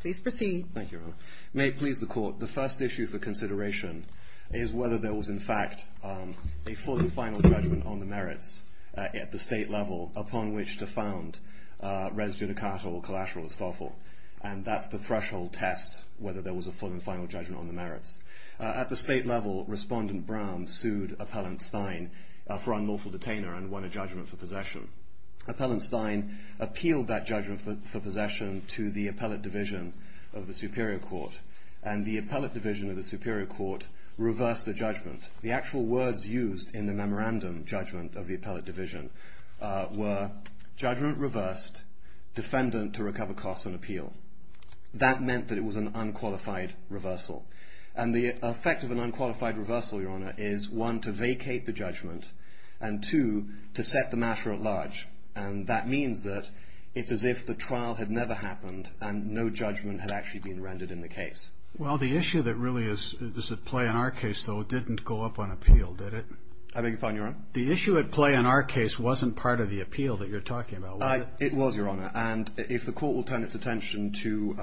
Please proceed. Thank you, Your Honor. May it please the Court, the first issue for consideration is whether there was in fact a full and final judgment on the merits at the state level upon which to found res judicata or collateral estoffel. And that's the threshold test, whether there was a full and final judgment on the merits. At the state level, Respondent Braum sued Appellant Stein for unlawful detainer and won a judgment for possession. Appellant Stein appealed that judgment for possession to the Appellate Division of the Superior Court. And the Appellate Division of the Superior Court reversed the judgment. The actual words used in the memorandum judgment of the Appellate Division were judgment reversed, defendant to recover costs on appeal. That meant that it was an unqualified reversal. And the effect of an unqualified reversal, Your Honor, is one, to vacate the judgment, and two, to set the matter at large. And that means that it's as if the trial had never happened and no judgment had actually been rendered in the case. Well, the issue that really is at play in our case, though, didn't go up on appeal, did it? I beg your pardon, Your Honor? The issue at play in our case wasn't part of the appeal that you're talking about, was it? It was, Your Honor. And if the Court will turn its attention to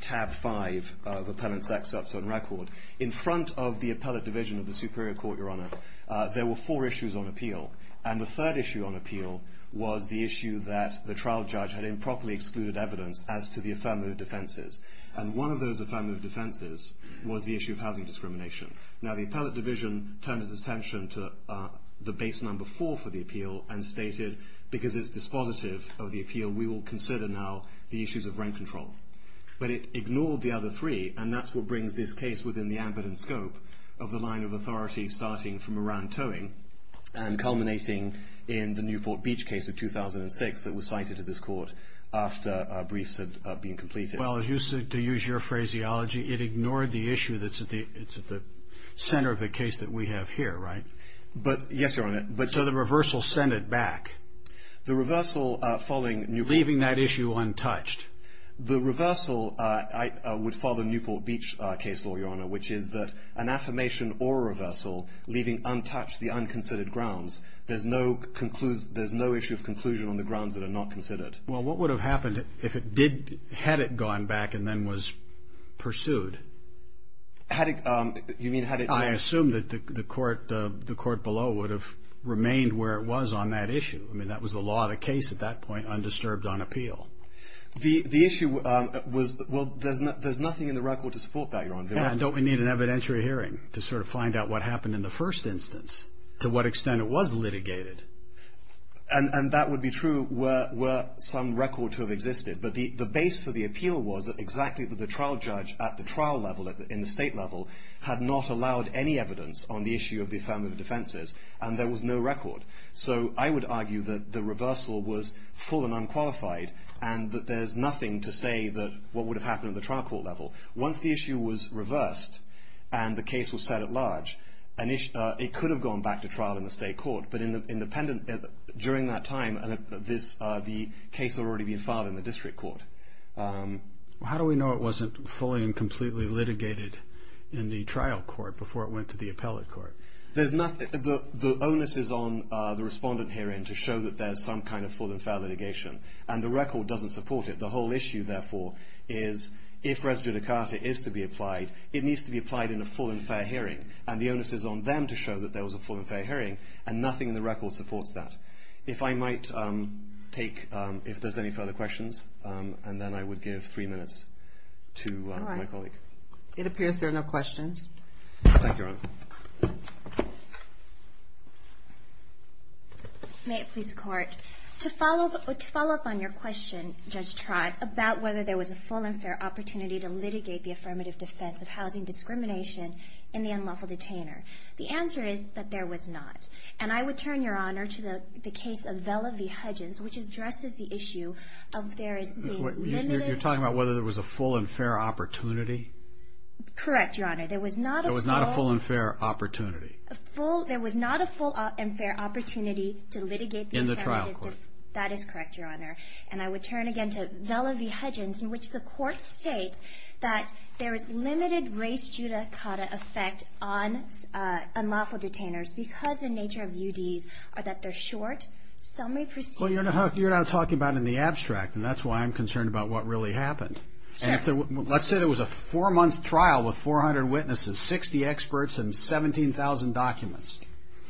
tab five of Appellant Saksop's own record, in front of the Appellate Division of the Superior Court, Your Honor, there were four issues on appeal. And the third issue on appeal was the issue that the trial judge had improperly excluded evidence as to the affirmative defenses. And one of those affirmative defenses was the issue of housing discrimination. Now, the Appellate Division turned its attention to the base number four for the appeal and stated, because it's dispositive of the appeal, we will consider now the issues of rent control. But it ignored the other three, and that's what brings this case within the ambit and scope of the line of authority, starting from Moran Towing and culminating in the Newport Beach case of 2006 that was cited at this court after briefs had been completed. Well, to use your phraseology, it ignored the issue that's at the center of the case that we have here, right? Yes, Your Honor. So the reversal sent it back. The reversal following Newport Beach. Leaving that issue untouched. The reversal would follow the Newport Beach case law, Your Honor, which is that an affirmation or a reversal leaving untouched the unconsidered grounds. There's no issue of conclusion on the grounds that are not considered. Well, what would have happened if it did, had it gone back and then was pursued? Had it, you mean had it- I assume that the court below would have remained where it was on that issue. I mean, that was the law of the case at that point, undisturbed on appeal. The issue was, well, there's nothing in the record to support that, Your Honor. Yeah, and don't we need an evidentiary hearing to sort of find out what happened in the first instance, to what extent it was litigated? And that would be true were some record to have existed. But the base for the appeal was exactly that the trial judge at the trial level, in the state level, had not allowed any evidence on the issue of the affirmative defenses, and there was no record. So I would argue that the reversal was full and unqualified and that there's nothing to say that what would have happened at the trial court level. Once the issue was reversed and the case was set at large, it could have gone back to trial in the state court. But during that time, the case had already been filed in the district court. How do we know it wasn't fully and completely litigated in the trial court before it went to the appellate court? The onus is on the respondent hearing to show that there's some kind of full and fair litigation, and the record doesn't support it. The whole issue, therefore, is if res judicata is to be applied, it needs to be applied in a full and fair hearing. And the onus is on them to show that there was a full and fair hearing, and nothing in the record supports that. If I might take, if there's any further questions, and then I would give three minutes to my colleague. It appears there are no questions. Thank you, Your Honor. May it please the Court. To follow up on your question, Judge Trott, about whether there was a full and fair opportunity to litigate the affirmative defense of housing discrimination in the unlawful detainer. The answer is that there was not. And I would turn, Your Honor, to the case of Vella v. Hudgens, which addresses the issue of there is a limited... You're talking about whether there was a full and fair opportunity? Correct, Your Honor. There was not a full... There was not a full and fair opportunity. There was not a full and fair opportunity to litigate the affirmative... In the trial court. That is correct, Your Honor. And I would turn again to Vella v. Hudgens, in which the Court states that there is limited race judicata effect on unlawful detainers because the nature of UDs are that they're short. Some may proceed... Well, you're not talking about it in the abstract, and that's why I'm concerned about what really happened. Sure. Let's say there was a four-month trial with 400 witnesses, 60 experts, and 17,000 documents.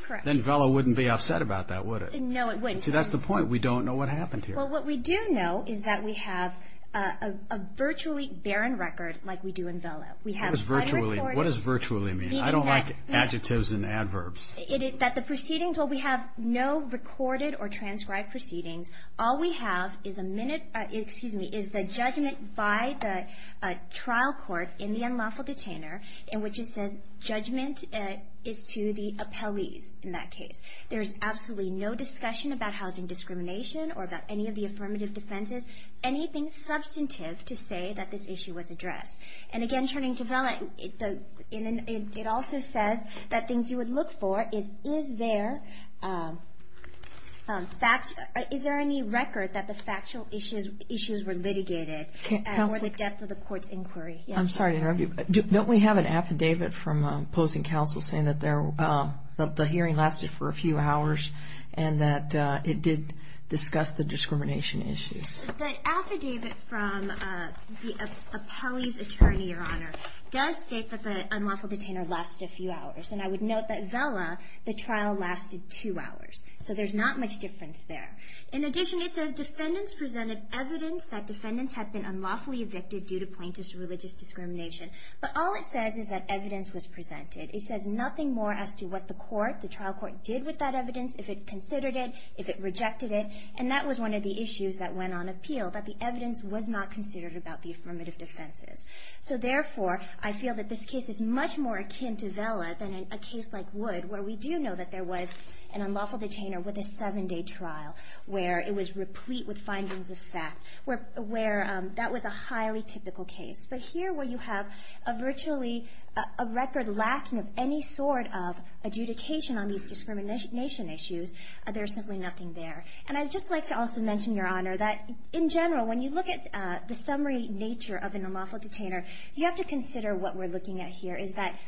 Correct. Then Vella wouldn't be upset about that, would it? No, it wouldn't. See, that's the point. We don't know what happened here. Well, what we do know is that we have a virtually barren record like we do in Vella. What does virtually mean? I don't like adjectives and adverbs. That the proceedings... Well, we have no recorded or transcribed proceedings. All we have is the judgment by the trial court in the unlawful detainer in which it says judgment is to the appellees in that case. There is absolutely no discussion about housing discrimination or about any of the affirmative defenses, anything substantive to say that this issue was addressed. And again, turning to Vella, it also says that things you would look for is, is there any record that the factual issues were litigated or the depth of the court's inquiry? I'm sorry to interrupt you, don't we have an affidavit from opposing counsel saying that the hearing lasted for a few hours and that it did discuss the discrimination issues? The affidavit from the appellee's attorney, Your Honor, does state that the unlawful detainer lasted a few hours. And I would note that Vella, the trial lasted two hours. So there's not much difference there. In addition, it says defendants presented evidence that defendants had been unlawfully evicted due to plaintiff's religious discrimination. But all it says is that evidence was presented. It says nothing more as to what the court, the trial court, did with that evidence, if it considered it, if it rejected it. And that was one of the issues that went on appeal, that the evidence was not considered about the affirmative defenses. So therefore, I feel that this case is much more akin to Vella than a case like Wood, where we do know that there was an unlawful detainer with a seven-day trial, where it was replete with findings of fact, where that was a highly typical case. But here, where you have virtually a record lacking of any sort of adjudication on these discrimination issues, there's simply nothing there. And I'd just like to also mention, Your Honor, that in general, when you look at the summary nature of an unlawful detainer, you have to consider what we're looking at here, is that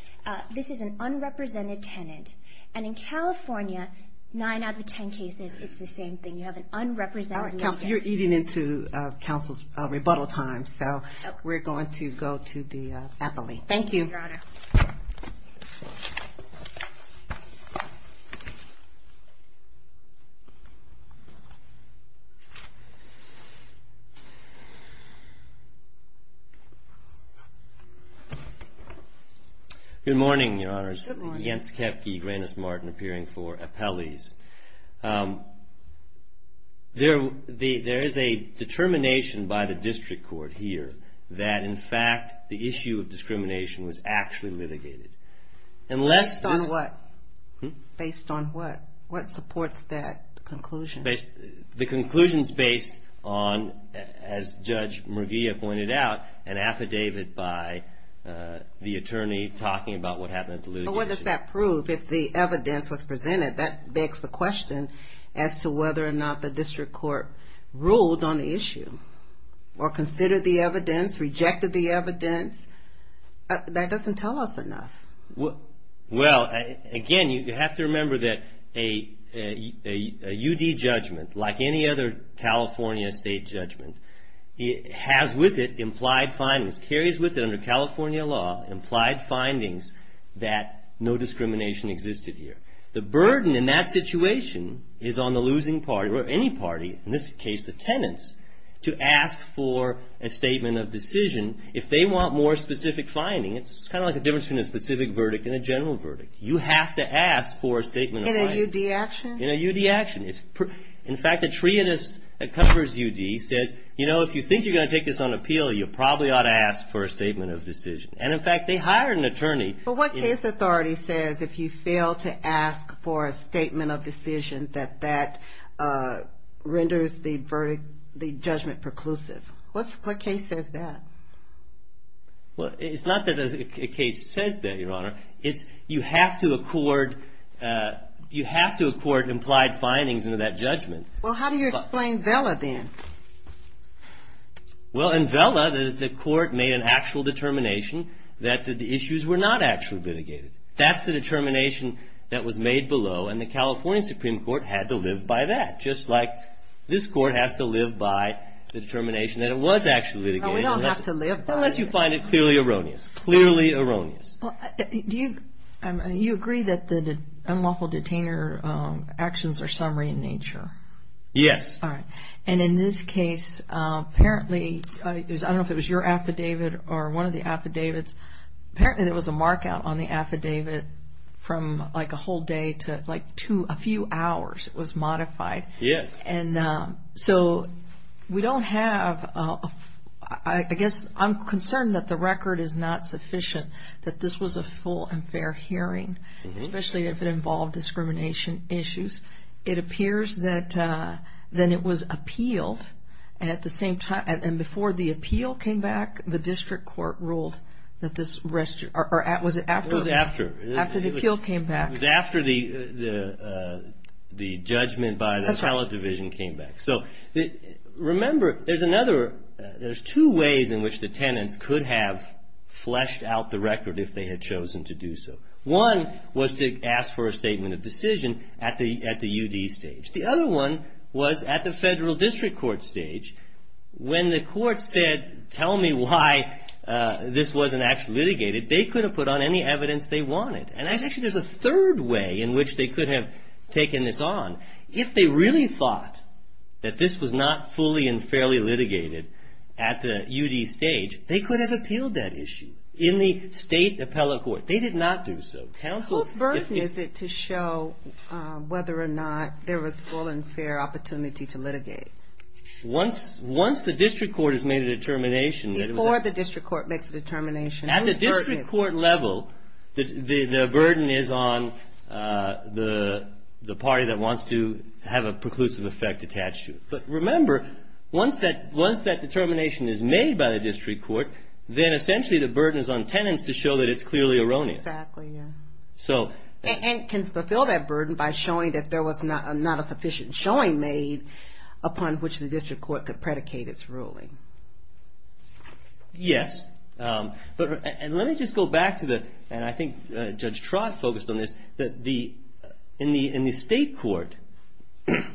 this is an unrepresented tenant. And in California, nine out of ten cases, it's the same thing. You have an unrepresented tenant. You're eating into counsel's rebuttal time, so we're going to go to the appellee. Thank you. Thank you, Your Honor. Good morning, Your Honors. Good morning. I'm Jens Kepke, Grannis Martin, appearing for appellees. There is a determination by the district court here that, in fact, the issue of discrimination was actually litigated. Based on what? Hm? Based on what? What supports that conclusion? The conclusion's based on, as Judge Murguia pointed out, an affidavit by the attorney talking about what happened at the litigation. But what does that prove if the evidence was presented? That begs the question as to whether or not the district court ruled on the issue or considered the evidence, rejected the evidence. That doesn't tell us enough. Well, again, you have to remember that a UD judgment, like any other California state judgment, has with it implied findings, carries with it under California law implied findings that no discrimination existed here. The burden in that situation is on the losing party or any party, in this case the tenants, to ask for a statement of decision. If they want more specific finding, it's kind of like the difference between a specific verdict and a general verdict. You have to ask for a statement of finding. In a UD action? In a UD action. In fact, the treatise that covers UD says, you know, if you think you're going to take this on appeal, you probably ought to ask for a statement of decision. And, in fact, they hired an attorney. But what case authority says if you fail to ask for a statement of decision that that renders the judgment preclusive? What case says that? Well, it's not that a case says that, Your Honor. It's you have to accord, you have to accord implied findings into that judgment. Well, how do you explain Vella, then? Well, in Vella, the court made an actual determination that the issues were not actually litigated. That's the determination that was made below, and the California Supreme Court had to live by that, just like this Court has to live by the determination that it was actually litigated. No, we don't have to live by it. Unless you find it clearly erroneous, clearly erroneous. Do you agree that the unlawful detainer actions are summary in nature? Yes. All right. And in this case, apparently, I don't know if it was your affidavit or one of the affidavits, apparently there was a markout on the affidavit from like a whole day to like a few hours. It was modified. Yes. And so we don't have, I guess I'm concerned that the record is not sufficient, that this was a full and fair hearing, especially if it involved discrimination issues. It appears that then it was appealed, and at the same time, and before the appeal came back, the district court ruled that this was after the appeal came back. It was after the judgment by the appellate division came back. So remember, there's another, there's two ways in which the tenants could have fleshed out the record if they had chosen to do so. One was to ask for a statement of decision at the UD stage. The other one was at the federal district court stage. When the court said, tell me why this wasn't actually litigated, they could have put on any evidence they wanted. And actually there's a third way in which they could have taken this on. If they really thought that this was not fully and fairly litigated at the UD stage, they could have appealed that issue in the state appellate court. They did not do so. Whose burden is it to show whether or not there was full and fair opportunity to litigate? Once the district court has made a determination. Before the district court makes a determination. At the district court level, the burden is on the party that wants to have a preclusive effect attached to it. But remember, once that determination is made by the district court, then essentially the burden is on tenants to show that it's clearly erroneous. Exactly, yeah. And can fulfill that burden by showing that there was not a sufficient showing made upon which the district court could predicate its ruling. Yes. And let me just go back to the, and I think Judge Trott focused on this, that in the state court,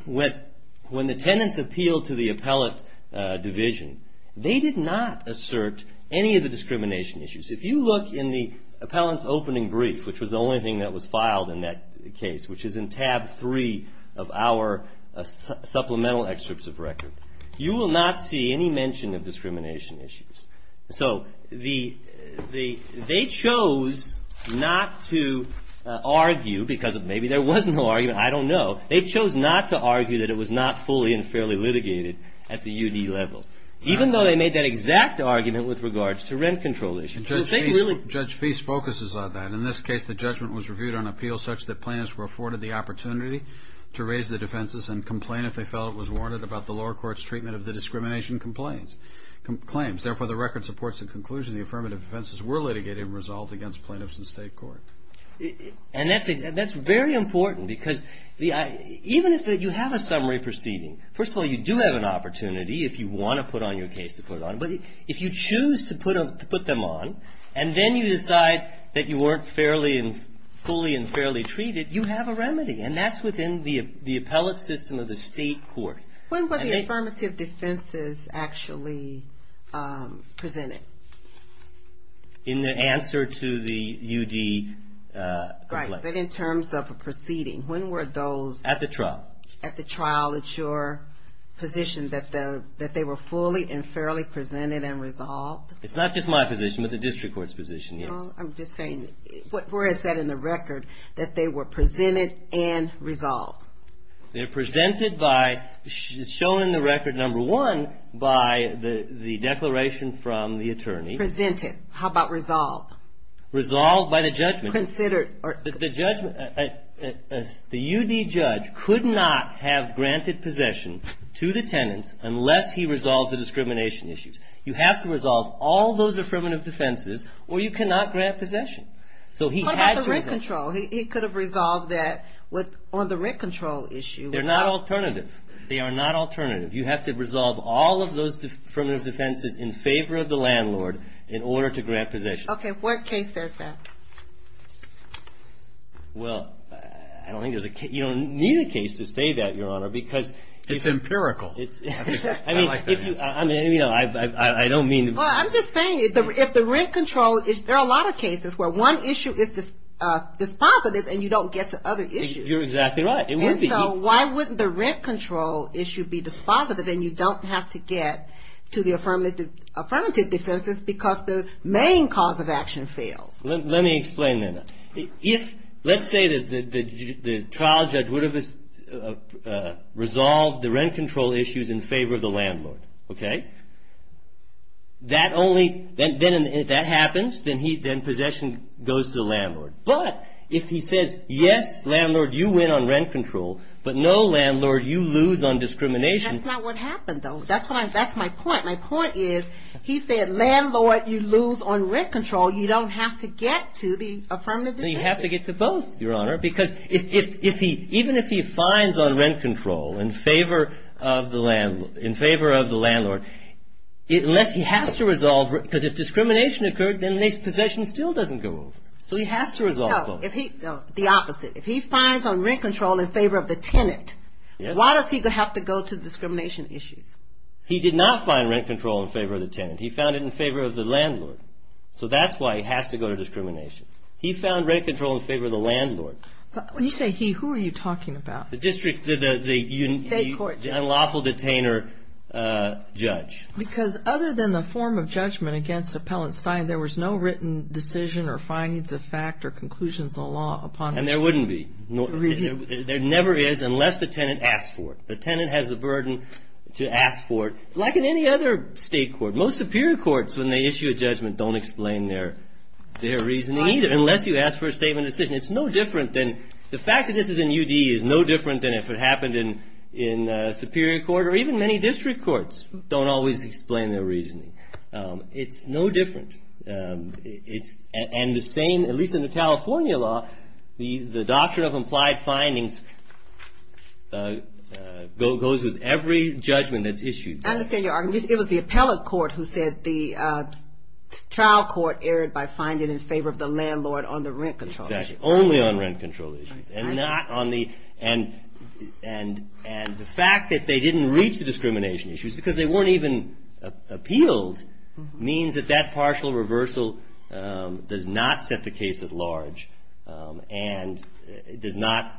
when the tenants appealed to the appellate division, they did not assert any of the discrimination issues. If you look in the appellant's opening brief, which was the only thing that was filed in that case, which is in tab three of our supplemental excerpts of record, you will not see any mention of discrimination issues. So they chose not to argue because maybe there was no argument, I don't know. They chose not to argue that it was not fully and fairly litigated at the UD level. Even though they made that exact argument with regards to rent control issues. Judge Feist focuses on that. In this case, the judgment was reviewed on appeals such that plaintiffs were afforded the opportunity to raise the defenses and complain if they felt it was warranted about the lower court's treatment of the discrimination claims. Therefore, the record supports the conclusion the affirmative defenses were litigated and resolved against plaintiffs in state court. And that's very important because even if you have a summary proceeding, first of all, you do have an opportunity if you want to put on your case to put it on. But if you choose to put them on and then you decide that you weren't fully and fairly treated, you have a remedy. And that's within the appellate system of the state court. When were the affirmative defenses actually presented? In the answer to the UD complaint. Right, but in terms of a proceeding. When were those? At the trial. At the trial, it's your position that they were fully and fairly presented and resolved? It's not just my position, but the district court's position, yes. Well, I'm just saying, where is that in the record that they were presented and resolved? They're presented by, shown in the record, number one, by the declaration from the attorney. Presented. How about resolved? Resolved by the judgment. Considered. The judgment, the UD judge could not have granted possession to the tenants unless he resolves the discrimination issues. You have to resolve all those affirmative defenses or you cannot grant possession. So he had to resolve. What about the rent control? He could have resolved that on the rent control issue. They're not alternative. They are not alternative. You have to resolve all of those affirmative defenses in favor of the landlord in order to grant possession. Okay, what case says that? Well, I don't think there's a case. You don't need a case to say that, Your Honor, because. It's empirical. I mean, you know, I don't mean to. Well, I'm just saying, if the rent control, there are a lot of cases where one issue is dispositive and you don't get to other issues. You're exactly right. And so why wouldn't the rent control issue be dispositive and you don't have to get to the affirmative defenses because the main cause of action fails? Let me explain that. Let's say that the trial judge would have resolved the rent control issues in favor of the landlord. Okay? That only, then if that happens, then possession goes to the landlord. But if he says, yes, landlord, you win on rent control, but no, landlord, you lose on discrimination. That's not what happened, though. That's my point. My point is, he said, landlord, you lose on rent control. You don't have to get to the affirmative defenses. No, you have to get to both, Your Honor, because even if he finds on rent control in favor of the landlord, unless he has to resolve, because if discrimination occurred, then his possession still doesn't go over. So he has to resolve both. No, the opposite. If he finds on rent control in favor of the tenant, why does he have to go to discrimination issues? He did not find rent control in favor of the tenant. He found it in favor of the landlord. So that's why he has to go to discrimination. He found rent control in favor of the landlord. When you say he, who are you talking about? The district, the unlawful detainer judge. Because other than the form of judgment against Appellant Stein, there was no written decision or findings of fact or conclusions of law upon him. And there wouldn't be. There never is unless the tenant asked for it. The tenant has the burden to ask for it, like in any other state court. Most superior courts, when they issue a judgment, don't explain their reasoning either, unless you ask for a statement of decision. It's no different than the fact that this is in U.D. is no different than if it happened in superior court or even many district courts don't always explain their reasoning. It's no different. And the same, at least in the California law, the doctrine of implied findings goes with every judgment that's issued. I understand your argument. It was the appellate court who said the trial court erred by finding in favor of the landlord on the rent control issue. Exactly. Only on rent control issues. And the fact that they didn't reach the discrimination issues, because they weren't even appealed, means that that partial reversal does not set the case at large and does not.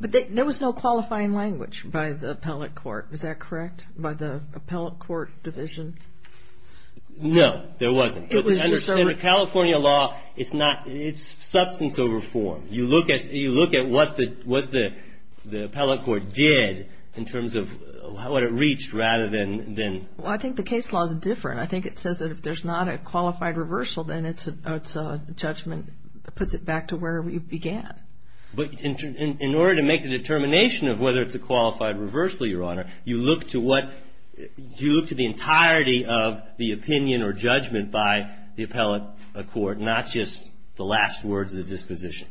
But there was no qualifying language by the appellate court. Is that correct, by the appellate court division? No, there wasn't. In the California law, it's substance over form. You look at what the appellate court did in terms of what it reached rather than. Well, I think the case law is different. I think it says that if there's not a qualified reversal, then it's a judgment that puts it back to where we began. But in order to make the determination of whether it's a qualified reversal, Your Honor, you look to the entirety of the opinion or judgment by the appellate court, not just the last words of the disposition.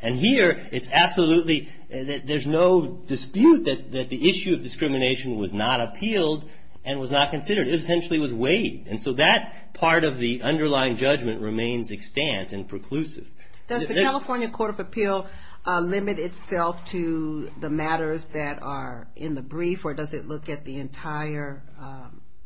And here, it's absolutely, there's no dispute that the issue of discrimination was not appealed and was not considered. It essentially was weighed, and so that part of the underlying judgment remains extant and preclusive. Does the California Court of Appeal limit itself to the matters that are in the brief, or does it look at the entire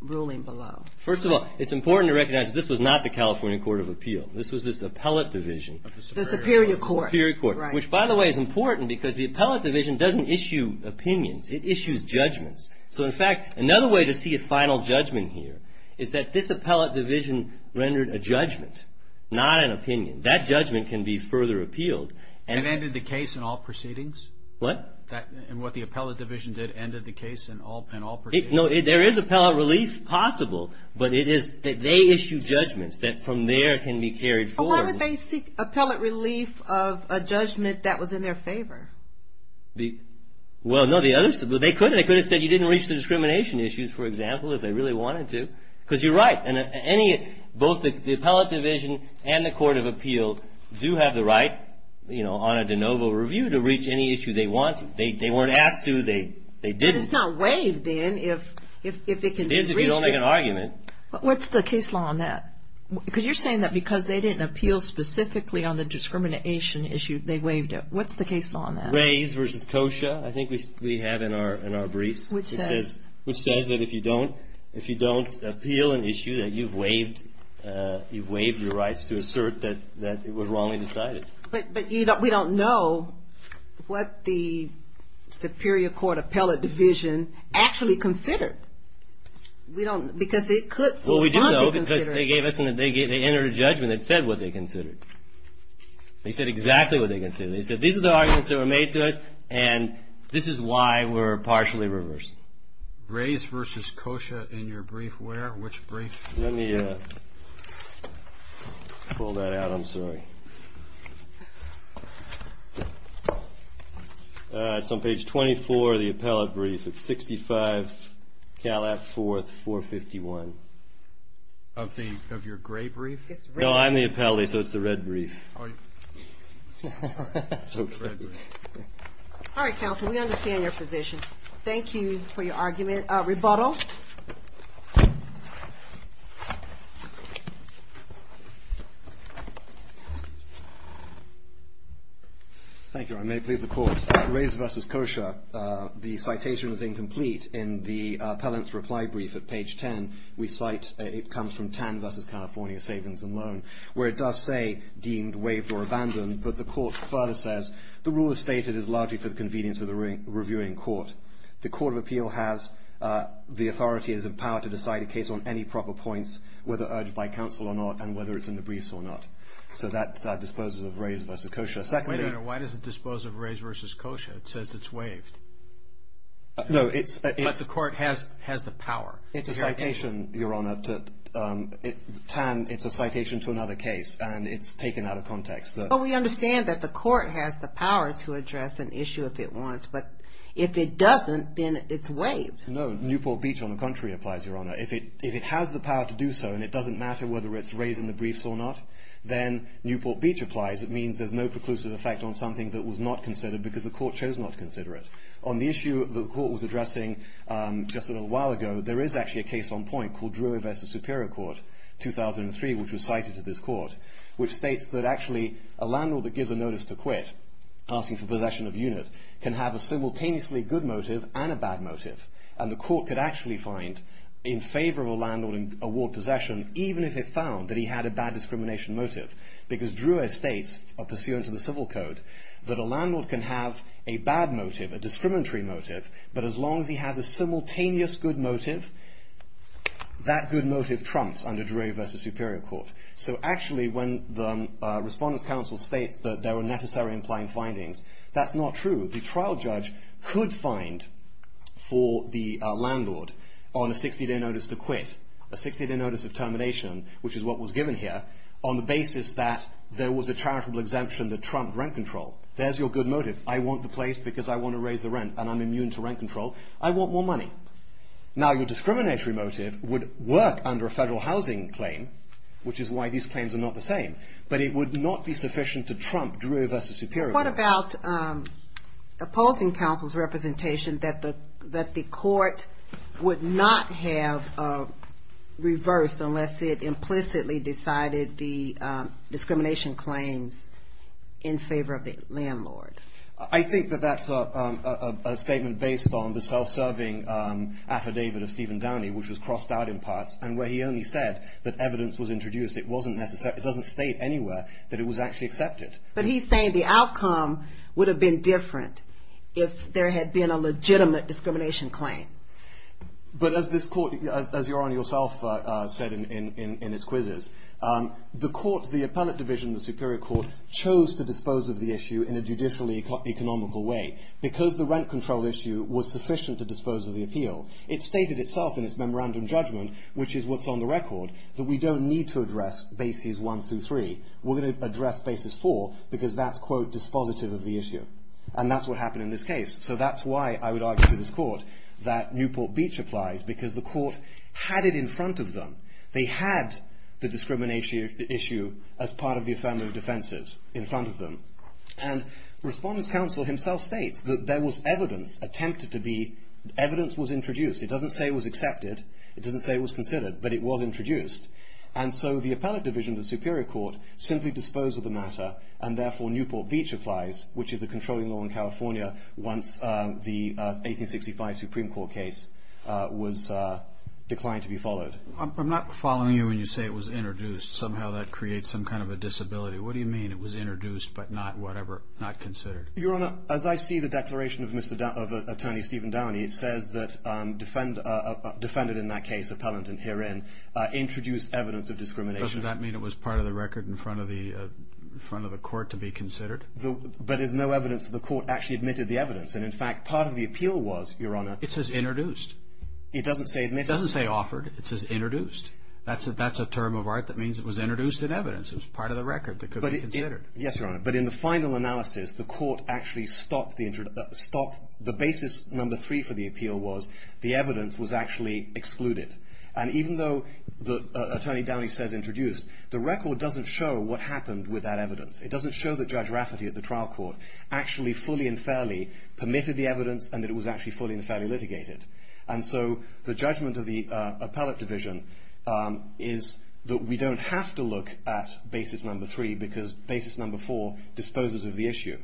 ruling below? First of all, it's important to recognize that this was not the California Court of Appeal. This was this appellate division. The Superior Court. The Superior Court, which, by the way, is important because the appellate division doesn't issue opinions. It issues judgments. So, in fact, another way to see a final judgment here is that this appellate division rendered a judgment, not an opinion. That judgment can be further appealed. And ended the case in all proceedings? What? And what the appellate division did ended the case in all proceedings? No, there is appellate relief possible, but it is that they issue judgments that from there can be carried forward. But why would they seek appellate relief of a judgment that was in their favor? Well, no, the others, they could have said you didn't reach the discrimination issues, for example, if they really wanted to. Because you're right. Both the appellate division and the Court of Appeal do have the right, you know, on a de novo review to reach any issue they want. They weren't asked to. They didn't. But it's not waived, then, if it can be reached. It is if you don't make an argument. What's the case law on that? Because you're saying that because they didn't appeal specifically on the discrimination issue, they waived it. What's the case law on that? Reyes v. Kosha, I think we have in our briefs. Which says? Which says that if you don't appeal an issue that you've waived, you've waived your rights to assert that it was wrongly decided. But we don't know what the Superior Court Appellate Division actually considered. We don't, because it could somehow be considered. Well, we do know because they gave us, they entered a judgment that said what they considered. They said exactly what they considered. They said these are the arguments that were made to us, and this is why we're partially reversed. Reyes v. Kosha in your brief where? Which brief? Let me pull that out. I'm sorry. It's on page 24 of the appellate brief. It's 65 Calat 4th, 451. Of your gray brief? No, I'm the appellate, so it's the red brief. All right, counsel, we understand your position. Thank you for your argument. Rebuttal. Thank you. I may please the court. Reyes v. Kosha, the citation is incomplete in the appellant's reply brief at page 10. We cite it comes from Tan v. California Savings and Loan, where it does say deemed, waived, or abandoned, but the court further says the rule as stated is largely for the convenience of the reviewing court. The court of appeal has the authority and the power to decide a case on any proper points, whether urged by counsel or not, and whether it's in the briefs or not. So that disposes of Reyes v. Kosha. Wait a minute. Why does it dispose of Reyes v. Kosha? It says it's waived. No, it's the court has the power. It's a citation, Your Honor. Well, we understand that the court has the power to address an issue if it wants, but if it doesn't, then it's waived. No, Newport Beach, on the contrary, applies, Your Honor. If it has the power to do so and it doesn't matter whether it's raised in the briefs or not, then Newport Beach applies. It means there's no preclusive effect on something that was not considered because the court chose not to consider it. On the issue the court was addressing just a little while ago, there is actually a case on point called Drury v. Superior Court, 2003, which was cited to this court, which states that actually a landlord that gives a notice to quit, asking for possession of unit, can have a simultaneously good motive and a bad motive. And the court could actually find in favor of a landlord in award possession, even if it found that he had a bad discrimination motive, because Drury states, pursuant to the Civil Code, that a landlord can have a bad motive, a discriminatory motive, but as long as he has a simultaneous good motive, that good motive trumps under Drury v. Superior Court. So actually, when the Respondents' Council states that there are necessary implying findings, that's not true. The trial judge could find for the landlord on a 60-day notice to quit, a 60-day notice of termination, which is what was given here, on the basis that there was a charitable exemption that trumped rent control. There's your good motive. I want the place because I want to raise the rent, and I'm immune to rent control. I want more money. Now, your discriminatory motive would work under a federal housing claim, which is why these claims are not the same, but it would not be sufficient to trump Drury v. Superior Court. What about opposing counsel's representation that the court would not have reversed unless it implicitly decided the discrimination claims in favor of the landlord? I think that that's a statement based on the self-serving affidavit of Stephen Downey, which was crossed out in parts, and where he only said that evidence was introduced. It doesn't state anywhere that it was actually accepted. But he's saying the outcome would have been different if there had been a legitimate discrimination claim. But as this court, as Your Honor yourself said in its quizzes, the court, the appellate division, the Superior Court, chose to dispose of the issue in a judicially economical way because the rent control issue was sufficient to dispose of the appeal. It stated itself in its memorandum judgment, which is what's on the record, that we don't need to address bases one through three. We're going to address bases four because that's, quote, dispositive of the issue. And that's what happened in this case. So that's why I would argue to this court that Newport Beach applies, because the court had it in front of them. They had the discrimination issue as part of the affirmative defenses in front of them. And Respondent's counsel himself states that there was evidence attempted to be – evidence was introduced. It doesn't say it was accepted. It doesn't say it was considered. But it was introduced. And so the appellate division of the Superior Court simply disposed of the matter, and therefore Newport Beach applies, which is the controlling law in California once the 1865 Supreme Court case was declined to be followed. I'm not following you when you say it was introduced. Somehow that creates some kind of a disability. What do you mean it was introduced but not whatever – not considered? Your Honor, as I see the declaration of Mr. – of Attorney Stephen Downey, it says that defendant in that case, appellant in herein, introduced evidence of discrimination. Doesn't that mean it was part of the record in front of the court to be considered? But there's no evidence that the court actually admitted the evidence. And, in fact, part of the appeal was, Your Honor – It says introduced. It doesn't say admitted. It doesn't say offered. It says introduced. That's a term of art that means it was introduced in evidence. It was part of the record that could be considered. Yes, Your Honor. But in the final analysis, the court actually stopped the – the basis number three for the appeal was the evidence was actually excluded. And even though Attorney Downey says introduced, the record doesn't show what happened with that evidence. It doesn't show that Judge Rafferty at the trial court actually fully and fairly permitted the evidence and that it was actually fully and fairly litigated. And so the judgment of the appellate division is that we don't have to look at basis number three because basis number four disposes of the issue.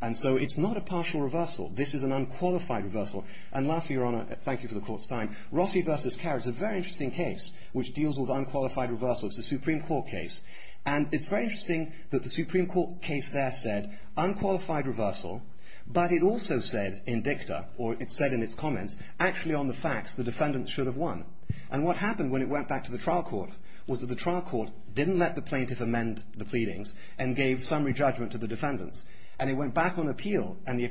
And so it's not a partial reversal. This is an unqualified reversal. And lastly, Your Honor – thank you for the court's time – Rossi v. Carrick is a very interesting case which deals with unqualified reversal. It's a Supreme Court case. And it's very interesting that the Supreme Court case there said unqualified reversal, but it also said in dicta, or it said in its comments, actually on the facts the defendant should have won. And what happened when it went back to the trial court was that the trial court didn't let the plaintiff amend the pleadings and gave summary judgment to the defendants. And it went back on appeal, and the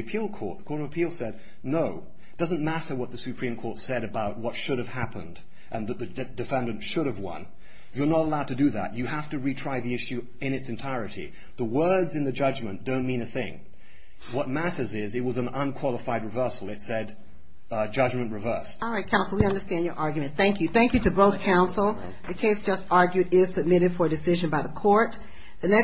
appeal court said, no, it doesn't matter what the Supreme Court said about what should have happened and that the defendant should have won. You're not allowed to do that. You have to retry the issue in its entirety. The words in the judgment don't mean a thing. What matters is it was an unqualified reversal. It said judgment reversed. All right, counsel, we understand your argument. Thank you. Thank you to both counsel. The case just argued is submitted for decision by the court.